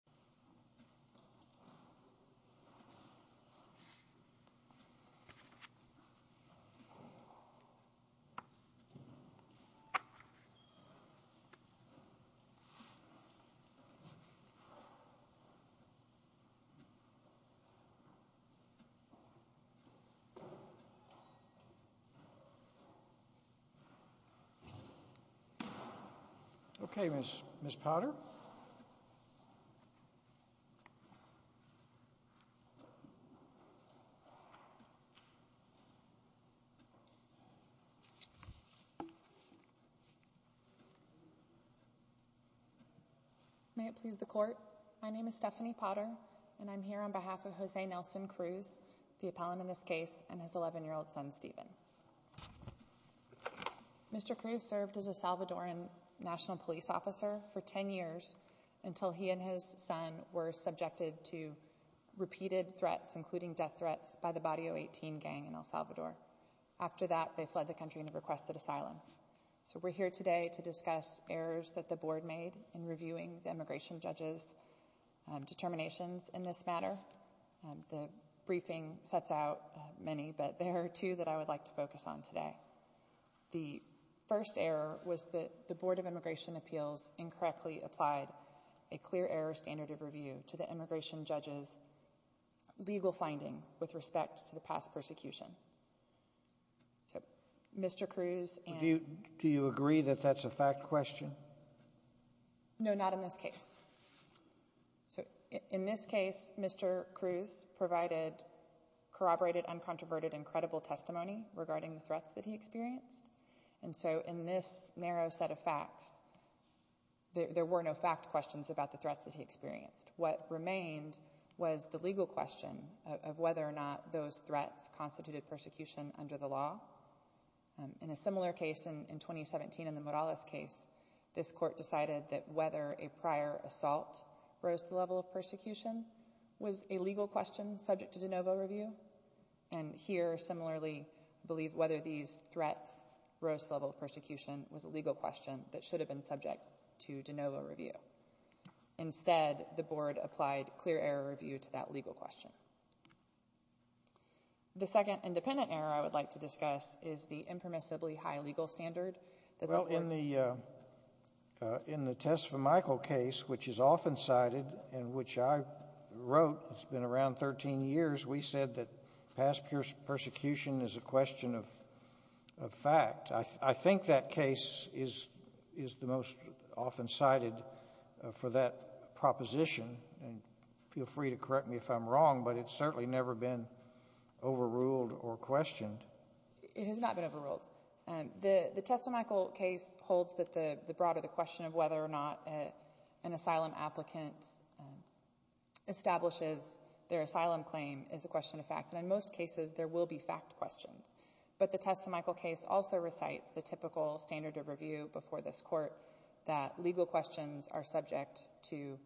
Eleanor McCullough, V. U. S. Attty General Customary Service Stephanie Potter, V. O. S. Attty General Customary Service May it please the Court, my name is Stephanie Potter and I'm here on behalf of Jose Nelson Cruz, the appellant in this case, and his 11-year-old son, Stephen. Mr. Cruz served as a Salvadoran national police officer for 10 years until he and his son were subjected to repeated threats, including death threats, by the Body 018 gang in El Salvador. After that, they fled the country and requested asylum. So we're here today to discuss errors that the board made in reviewing the immigration judge's determinations in this matter. The briefing sets out many, but there are two that I would like to focus on today. The first error was that the Board of Immigration Appeals incorrectly applied a clear error standard of review to the immigration judge's legal finding with respect to the past persecution. So, Mr. Cruz and... Do you agree that that's a fact question? No, not in this case. So, in this case, Mr. Cruz provided corroborated, uncontroverted, and credible testimony regarding the threats that he experienced. And so, in this narrow set of facts, there were no fact questions about the threats that he experienced. What remained was the legal question of whether or not those threats constituted persecution under the law. In a similar case in 2017, in the Morales case, this court decided that whether a prior assault rose to the level of persecution was a legal question subject to de novo review. And here, similarly, whether these threats rose to the level of persecution was a legal question that should have been subject to de novo review. Instead, the board applied clear error review to that legal question. The second independent error I would like to discuss is the impermissibly high legal standard. Well, in the Tesfamichael case, which is often cited and which I wrote, it's been around 13 years, we said that past persecution is a question of fact. I think that case is the most often cited for that proposition. Feel free to correct me if I'm wrong, but it's certainly never been overruled or questioned. It has not been overruled. The Tesfamichael case holds that the broader question of whether or not an asylum applicant establishes their asylum claim is a question of fact. And in most cases, there will be fact questions. But the Tesfamichael case also recites the typical standard of review before this court that legal questions are subject to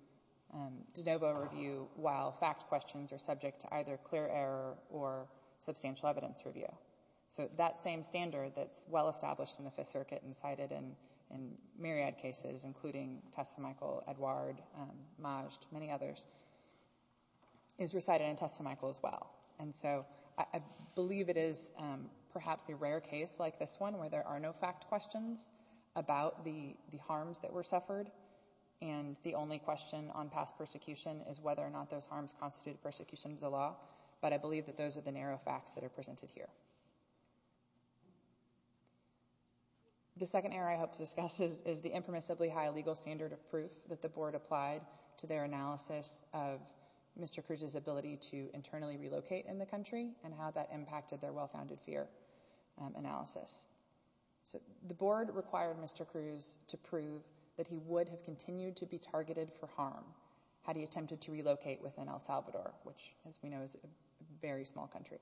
de novo review, while fact questions are subject to either clear error or substantial evidence review. So that same standard that's well established in the Fifth Circuit and cited in myriad cases, including Tesfamichael, Edouard, Majd, many others, is recited in Tesfamichael as well. And so I believe it is perhaps the rare case like this one where there are no fact questions about the harms that were suffered. And the only question on past persecution is whether or not those harms constituted persecution of the law. But I believe that those are the narrow facts that are presented here. The second error I hope to discuss is the impermissibly high legal standard of proof that the board applied to their analysis of Mr. Cruz's ability to internally relocate in the country and how that impacted their well-founded fear analysis. So the board required Mr. Cruz to prove that he would have continued to be targeted for harm had he attempted to relocate within El Salvador, which, as we know, is a very small country.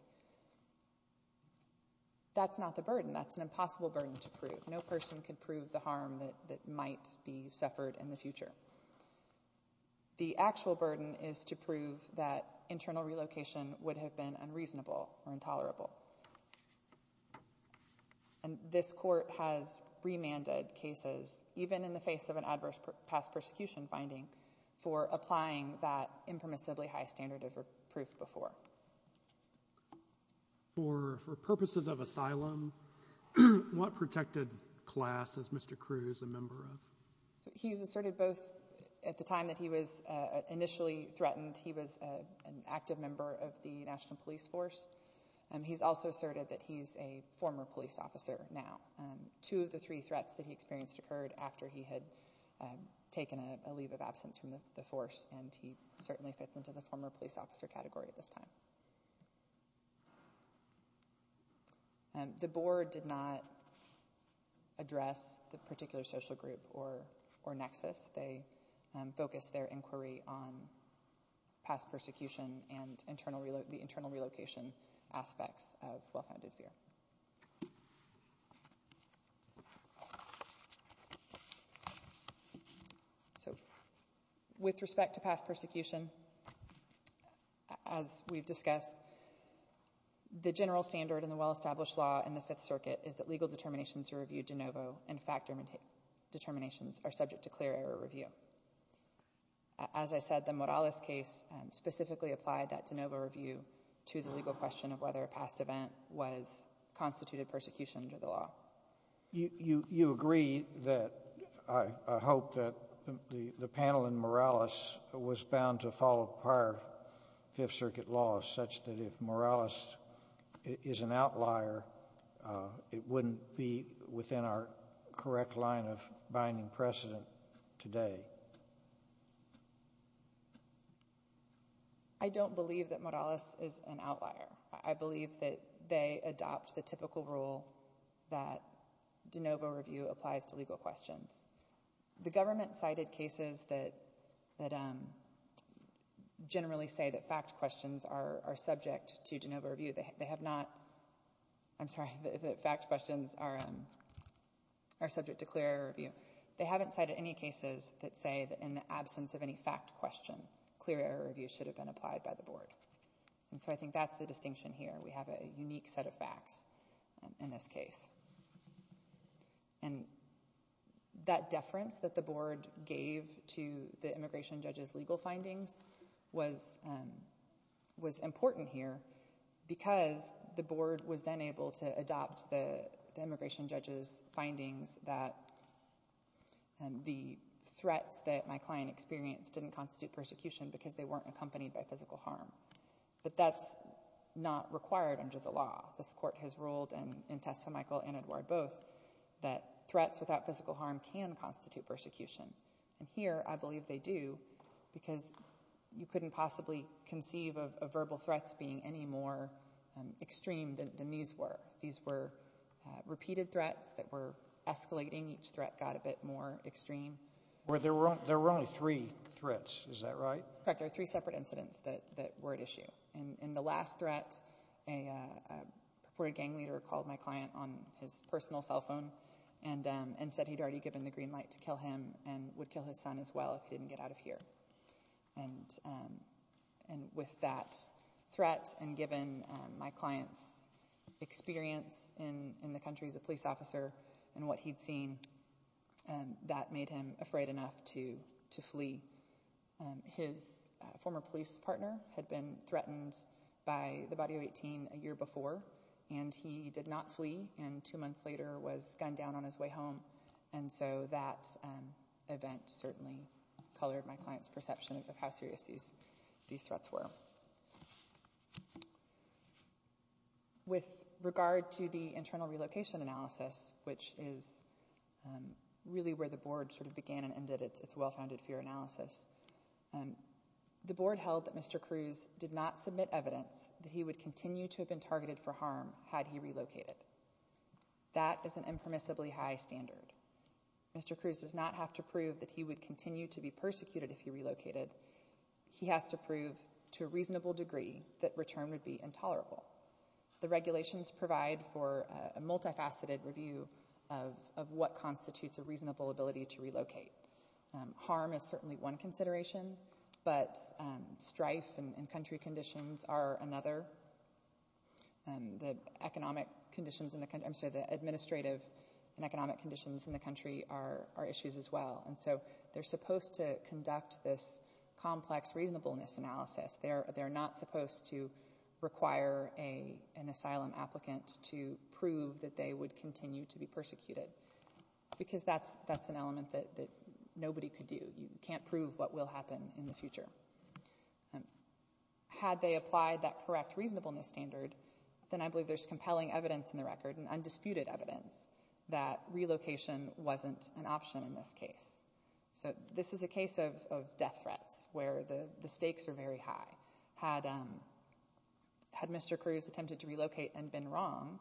That's not the burden. That's an impossible burden to prove. No person could prove the harm that might be suffered in the future. The actual burden is to prove that internal relocation would have been unreasonable or intolerable. And this court has remanded cases, even in the face of an adverse past persecution finding, for applying that impermissibly high standard of proof before. For purposes of asylum, what protected class is Mr. Cruz a member of? He's asserted both at the time that he was initially threatened. He was an active member of the National Police Force. He's also asserted that he's a former police officer now. Two of the three threats that he experienced occurred after he had taken a leave of absence from the force, and he certainly fits into the former police officer category at this time. The board did not address the particular social group or nexus. They focused their inquiry on past persecution and the internal relocation aspects of well-founded fear. So with respect to past persecution, as we've discussed, the general standard in the well-established law in the Fifth Circuit is that legal determinations to review de novo and fact determinations are subject to clear error review. As I said, the Morales case specifically applied that de novo review to the legal question of whether a past event was constituted persecution under the law. You agree that I hope that the panel in Morales was bound to follow prior Fifth Circuit laws such that if Morales is an outlier, it wouldn't be within our correct line of binding precedent today. I don't believe that Morales is an outlier. I believe that they adopt the typical rule that de novo review applies to legal questions. The government cited cases that generally say that fact questions are subject to de novo review. They have not—I'm sorry, that fact questions are subject to clear error review. They haven't cited any cases that say that in the absence of any fact question, clear error review should have been applied by the board. And so I think that's the distinction here. We have a unique set of facts in this case. And that deference that the board gave to the immigration judge's legal findings was important here because the board was then able to adopt the immigration judge's findings that the threats that my client experienced didn't constitute persecution because they weren't accompanied by physical harm. But that's not required under the law. This Court has ruled in Testa-Michael and Edouard both that threats without physical harm can constitute persecution. And here I believe they do because you couldn't possibly conceive of verbal threats being any more extreme than these were. These were repeated threats that were escalating. Each threat got a bit more extreme. There were only three threats, is that right? Correct. There were three separate incidents that were at issue. In the last threat, a purported gang leader called my client on his personal cell phone and said he'd already given the green light to kill him and would kill his son as well if he didn't get out of here. And with that threat and given my client's experience in the country as a police officer and what he'd seen, that made him afraid enough to flee. His former police partner had been threatened by the Body of 18 a year before, and he did not flee and two months later was gunned down on his way home. And so that event certainly colored my client's perception of how serious these threats were. With regard to the internal relocation analysis, which is really where the board sort of began and ended its well-founded fear analysis, the board held that Mr. Cruz did not submit evidence that he would continue to have been targeted for harm had he relocated. That is an impermissibly high standard. Mr. Cruz does not have to prove that he would continue to be persecuted if he relocated. He has to prove to a reasonable degree that return would be intolerable. The regulations provide for a multifaceted review of what constitutes a reasonable ability to relocate. Harm is certainly one consideration, but strife and country conditions are another. The administrative and economic conditions in the country are issues as well. And so they're supposed to conduct this complex reasonableness analysis. They're not supposed to require an asylum applicant to prove that they would continue to be persecuted, because that's an element that nobody could do. You can't prove what will happen in the future. Had they applied that correct reasonableness standard, then I believe there's compelling evidence in the record and undisputed evidence that relocation wasn't an option in this case. So this is a case of death threats where the stakes are very high. Had Mr. Cruz attempted to relocate and been wrong,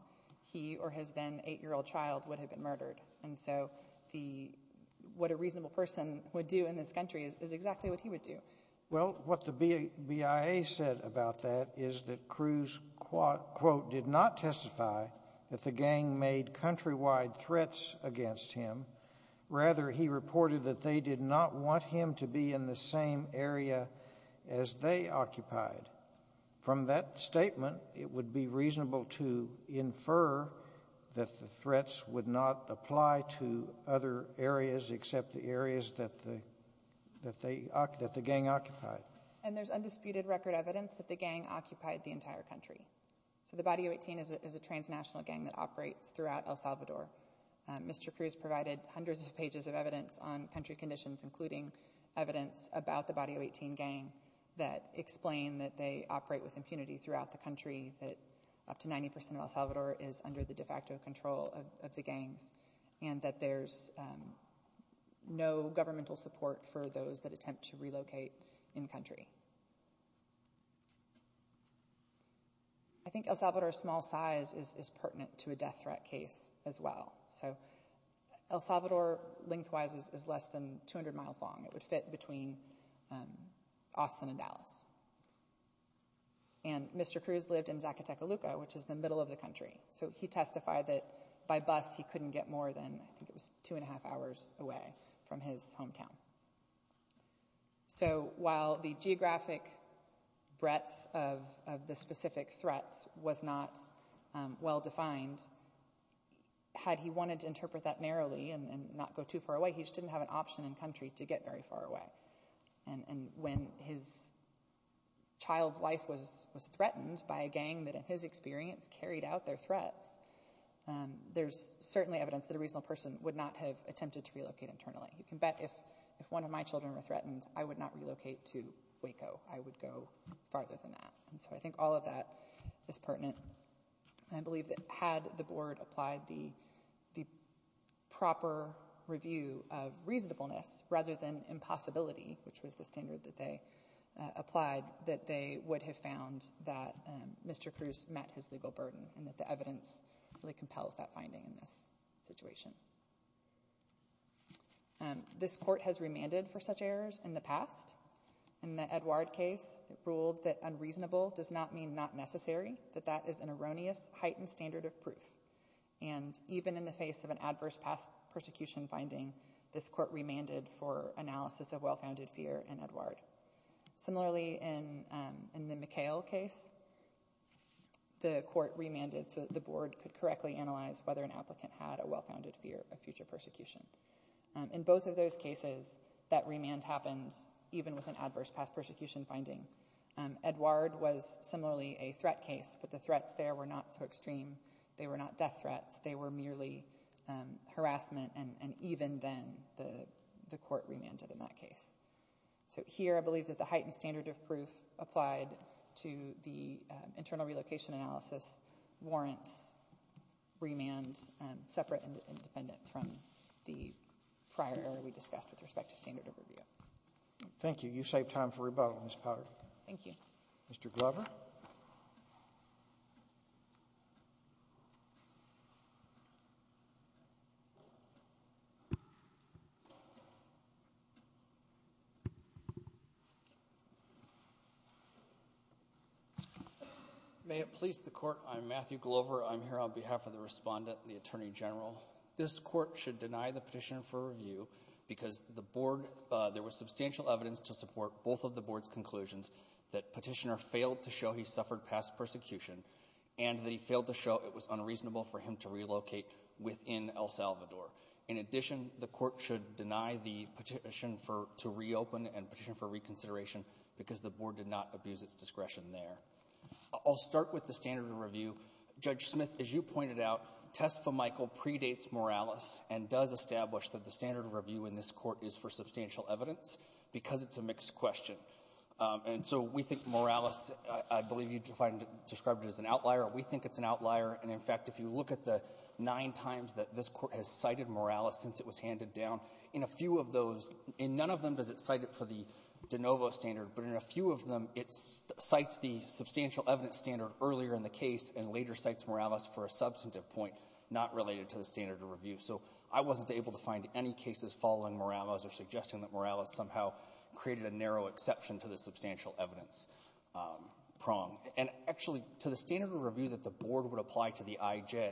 he or his then 8-year-old child would have been murdered. And so what a reasonable person would do in this country is exactly what he would do. Well, what the BIA said about that is that Cruz, quote, did not testify that the gang made countrywide threats against him. Rather, he reported that they did not want him to be in the same area as they occupied. From that statement, it would be reasonable to infer that the threats would not apply to other areas except the areas that the gang occupied. And there's undisputed record evidence that the gang occupied the entire country. So the Body of 18 is a transnational gang that operates throughout El Salvador. Mr. Cruz provided hundreds of pages of evidence on country conditions, including evidence about the Body of 18 gang that explain that they operate with impunity throughout the country, that up to 90 percent of El Salvador is under the de facto control of the gangs, and that there's no governmental support for those that attempt to relocate in-country. I think El Salvador's small size is pertinent to a death threat case as well. So El Salvador, lengthwise, is less than 200 miles long. It would fit between Austin and Dallas. And Mr. Cruz lived in Zacateca Luca, which is the middle of the country. So he testified that by bus he couldn't get more than 2 1⁄2 hours away from his hometown. So while the geographic breadth of the specific threats was not well defined, had he wanted to interpret that narrowly and not go too far away, he just didn't have an option in-country to get very far away. And when his child's life was threatened by a gang that, in his experience, carried out their threats, there's certainly evidence that a reasonable person would not have attempted to relocate internally. You can bet if one of my children were threatened, I would not relocate to Waco. I would go farther than that. And so I think all of that is pertinent. I believe that had the board applied the proper review of reasonableness rather than impossibility, which was the standard that they applied, that they would have found that Mr. Cruz met his legal burden and that the evidence really compels that finding in this situation. This court has remanded for such errors in the past. In the Edouard case, it ruled that unreasonable does not mean not necessary, that that is an erroneous heightened standard of proof. And even in the face of an adverse past persecution finding, this court remanded for analysis of well-founded fear in Edouard. Similarly, in the McHale case, the court remanded so that the board could correctly analyze whether an applicant had a well-founded fear of future persecution. In both of those cases, that remand happened even with an adverse past persecution finding. Edouard was similarly a threat case, but the threats there were not so extreme. They were not death threats. They were merely harassment, and even then, the court remanded in that case. So here, I believe that the heightened standard of proof applied to the internal relocation analysis warrants remand separate and independent from the prior error we discussed with respect to standard of review. Thank you. You saved time for rebuttal, Ms. Potter. Thank you. Mr. Glover. Thank you. May it please the court, I'm Matthew Glover. I'm here on behalf of the respondent, the Attorney General. This court should deny the petition for review because there was substantial evidence to support both of the board's conclusions that Petitioner failed to show he suffered past persecution and that he failed to show it was unreasonable for him to relocate within El Salvador. In addition, the court should deny the petition to reopen and petition for reconsideration because the board did not abuse its discretion there. I'll start with the standard of review. Judge Smith, as you pointed out, test for Michael predates Morales and does establish that the standard of review in this court is for substantial evidence because it's a mixed question. And so we think Morales, I believe you described it as an outlier. We think it's an outlier. And, in fact, if you look at the nine times that this Court has cited Morales since it was handed down, in a few of those, in none of them does it cite it for the de novo standard, but in a few of them it cites the substantial evidence standard earlier in the case and later cites Morales for a substantive point not related to the standard of review. So I wasn't able to find any cases following Morales or suggesting that Morales somehow created a narrow exception to the substantial evidence prong. And, actually, to the standard of review that the board would apply to the IJ,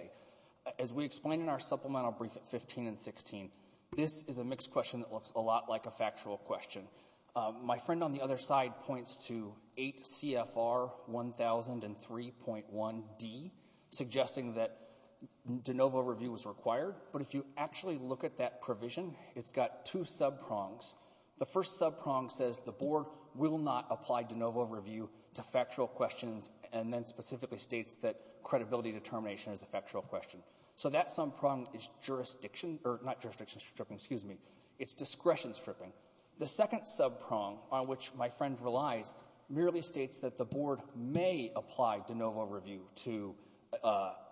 as we explain in our supplemental brief at 15 and 16, this is a mixed question that looks a lot like a factual question. My friend on the other side points to 8 CFR 1003.1D suggesting that de novo review was required. But if you actually look at that provision, it's got two sub-prongs. The first sub-prong says the board will not apply de novo review to factual questions and then specifically states that credibility determination is a factual question. So that sub-prong is jurisdiction or not jurisdiction stripping, excuse me. It's discretion stripping. The second sub-prong, on which my friend relies, merely states that the board may apply de novo review to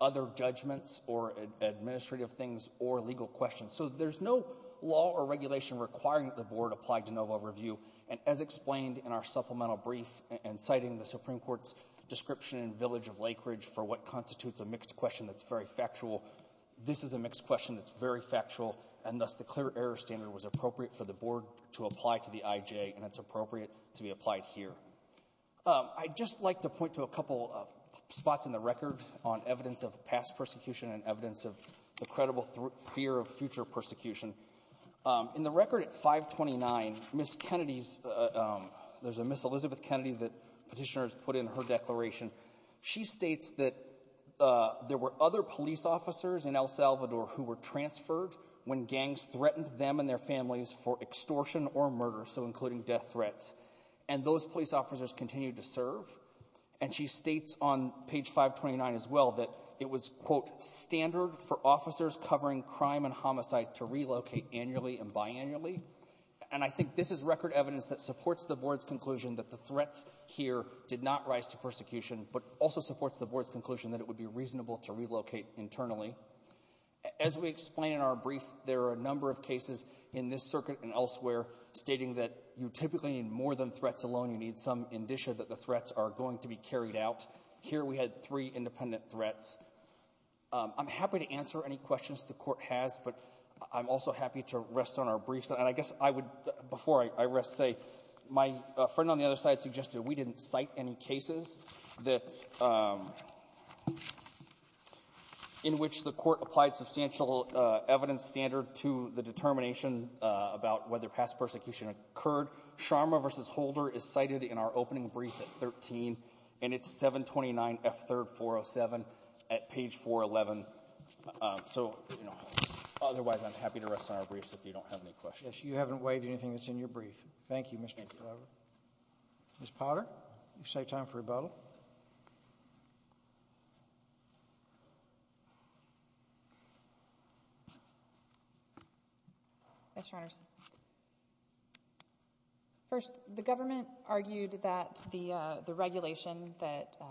other judgments or administrative things or legal questions. So there's no law or regulation requiring that the board apply de novo review. And as explained in our supplemental brief and citing the Supreme Court's description in Village of Lake Ridge for what constitutes a mixed question that's very factual, this is a mixed question that's very factual, and thus the clear error standard was that it's appropriate for the board to apply to the IJ, and it's appropriate to be applied here. I'd just like to point to a couple of spots in the record on evidence of past persecution and evidence of the credible fear of future persecution. In the record at 529, Ms. Kennedy's — there's a Ms. Elizabeth Kennedy that Petitioner has put in her declaration. She states that there were other police officers in El Salvador who were transferred when gangs threatened them and their families for extortion or murder, so including death threats. And those police officers continued to serve. And she states on page 529 as well that it was, quote, standard for officers covering crime and homicide to relocate annually and biannually. And I think this is record evidence that supports the board's conclusion that the threats here did not rise to persecution, but also supports the board's conclusion that it would be reasonable to relocate internally. As we explain in our brief, there are a number of cases in this circuit and elsewhere stating that you typically need more than threats alone. You need some indicia that the threats are going to be carried out. Here we had three independent threats. I'm happy to answer any questions the Court has, but I'm also happy to rest on our briefs. And I guess I would, before I rest, say my friend on the other side suggested that we didn't cite any cases that's — in which the Court applied substantial evidence standard to the determination about whether past persecution occurred. Sharma v. Holder is cited in our opening brief at 13, and it's 729F3407 at page 411. So, you know, otherwise, I'm happy to rest on our briefs if you don't have any questions. Yes, you haven't waived anything that's in your brief. Thank you, Mr. Glover. Ms. Potter, you've saved time for rebuttal. Yes, Your Honors. First, the government argued that the regulation that —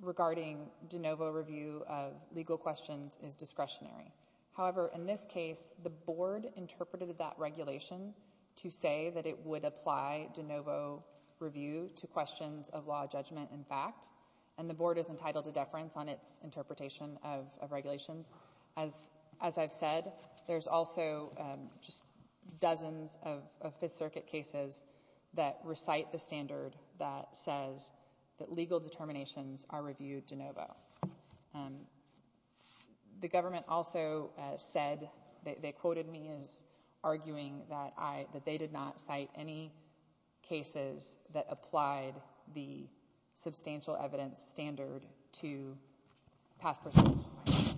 regarding de novo review of legal questions is discretionary. However, in this case, the Board interpreted that regulation to say that it would apply de novo review to questions of law judgment and fact, and the Board is entitled to deference on its interpretation of regulations. As I've said, there's also just dozens of Fifth Circuit cases that recite the standard that says that legal determinations are reviewed de novo. The government also said — they quoted me as arguing that I — that they did not cite any cases that applied the substantial evidence standard to past persecution findings.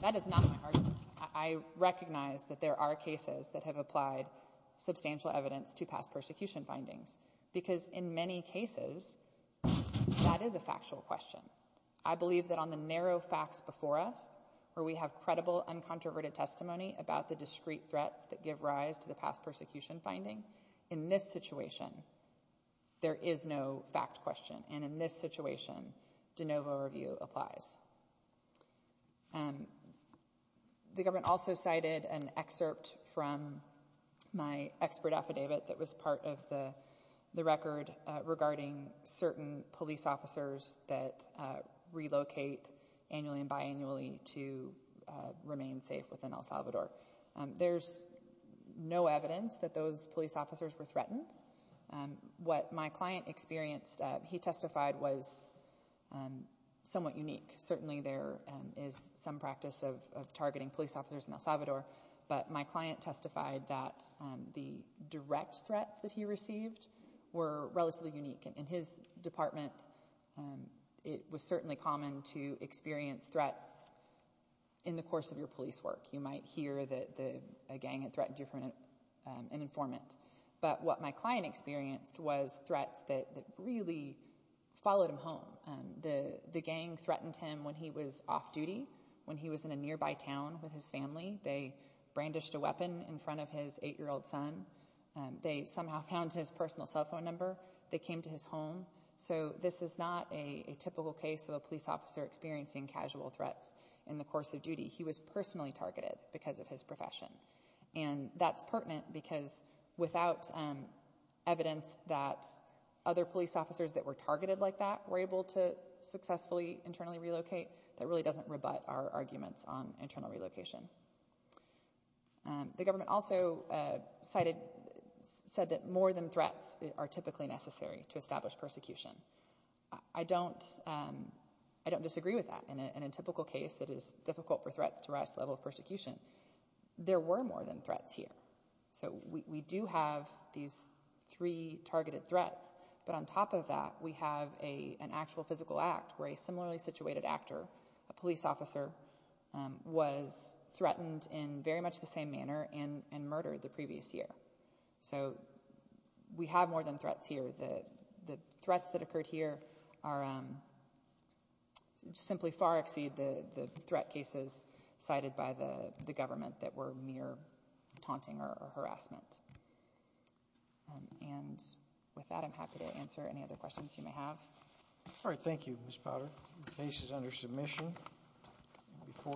That is not my argument. I recognize that there are cases that have applied substantial evidence to past persecution findings, because in many cases, that is a factual question. I believe that on the narrow facts before us, where we have credible, uncontroverted testimony about the discrete threats that give rise to the past persecution finding, in this situation, there is no fact question, and in this situation, de novo review applies. The government also cited an excerpt from my expert affidavit that was part of the record regarding certain police officers that relocate annually and biannually to remain safe within El Salvador. There's no evidence that those police officers were threatened. What my client experienced, he testified, was somewhat unique. Certainly, there is some practice of targeting police officers in El Salvador, but my client testified that the direct threats that he received were relatively unique. In his department, it was certainly common to experience threats in the course of your police work. You might hear that a gang had threatened you from an informant. But what my client experienced was threats that really followed him home. The gang threatened him when he was off duty, when he was in a nearby town with his family. They brandished a weapon in front of his eight-year-old son. They somehow found his personal cell phone number. They came to his home. So this is not a typical case of a police officer experiencing casual threats in the course of duty. He was personally targeted because of his profession. That's pertinent because without evidence that other police officers that were targeted like that were able to successfully internally relocate, that really doesn't rebut our arguments on internal relocation. The government also said that more than threats are typically necessary to establish persecution. I don't disagree with that. In a typical case, it is difficult for threats to rise to the level of persecution. There were more than threats here. So we do have these three targeted threats. But on top of that, we have an actual physical act where a similarly situated actor, a police officer, was threatened in very much the same manner and murdered the previous year. So we have more than threats here. The threats that occurred here simply far exceed the threat cases cited by the government that were mere taunting or harassment. And with that, I'm happy to answer any other questions you may have. All right. Thank you, Ms. Potter. The case is under submission.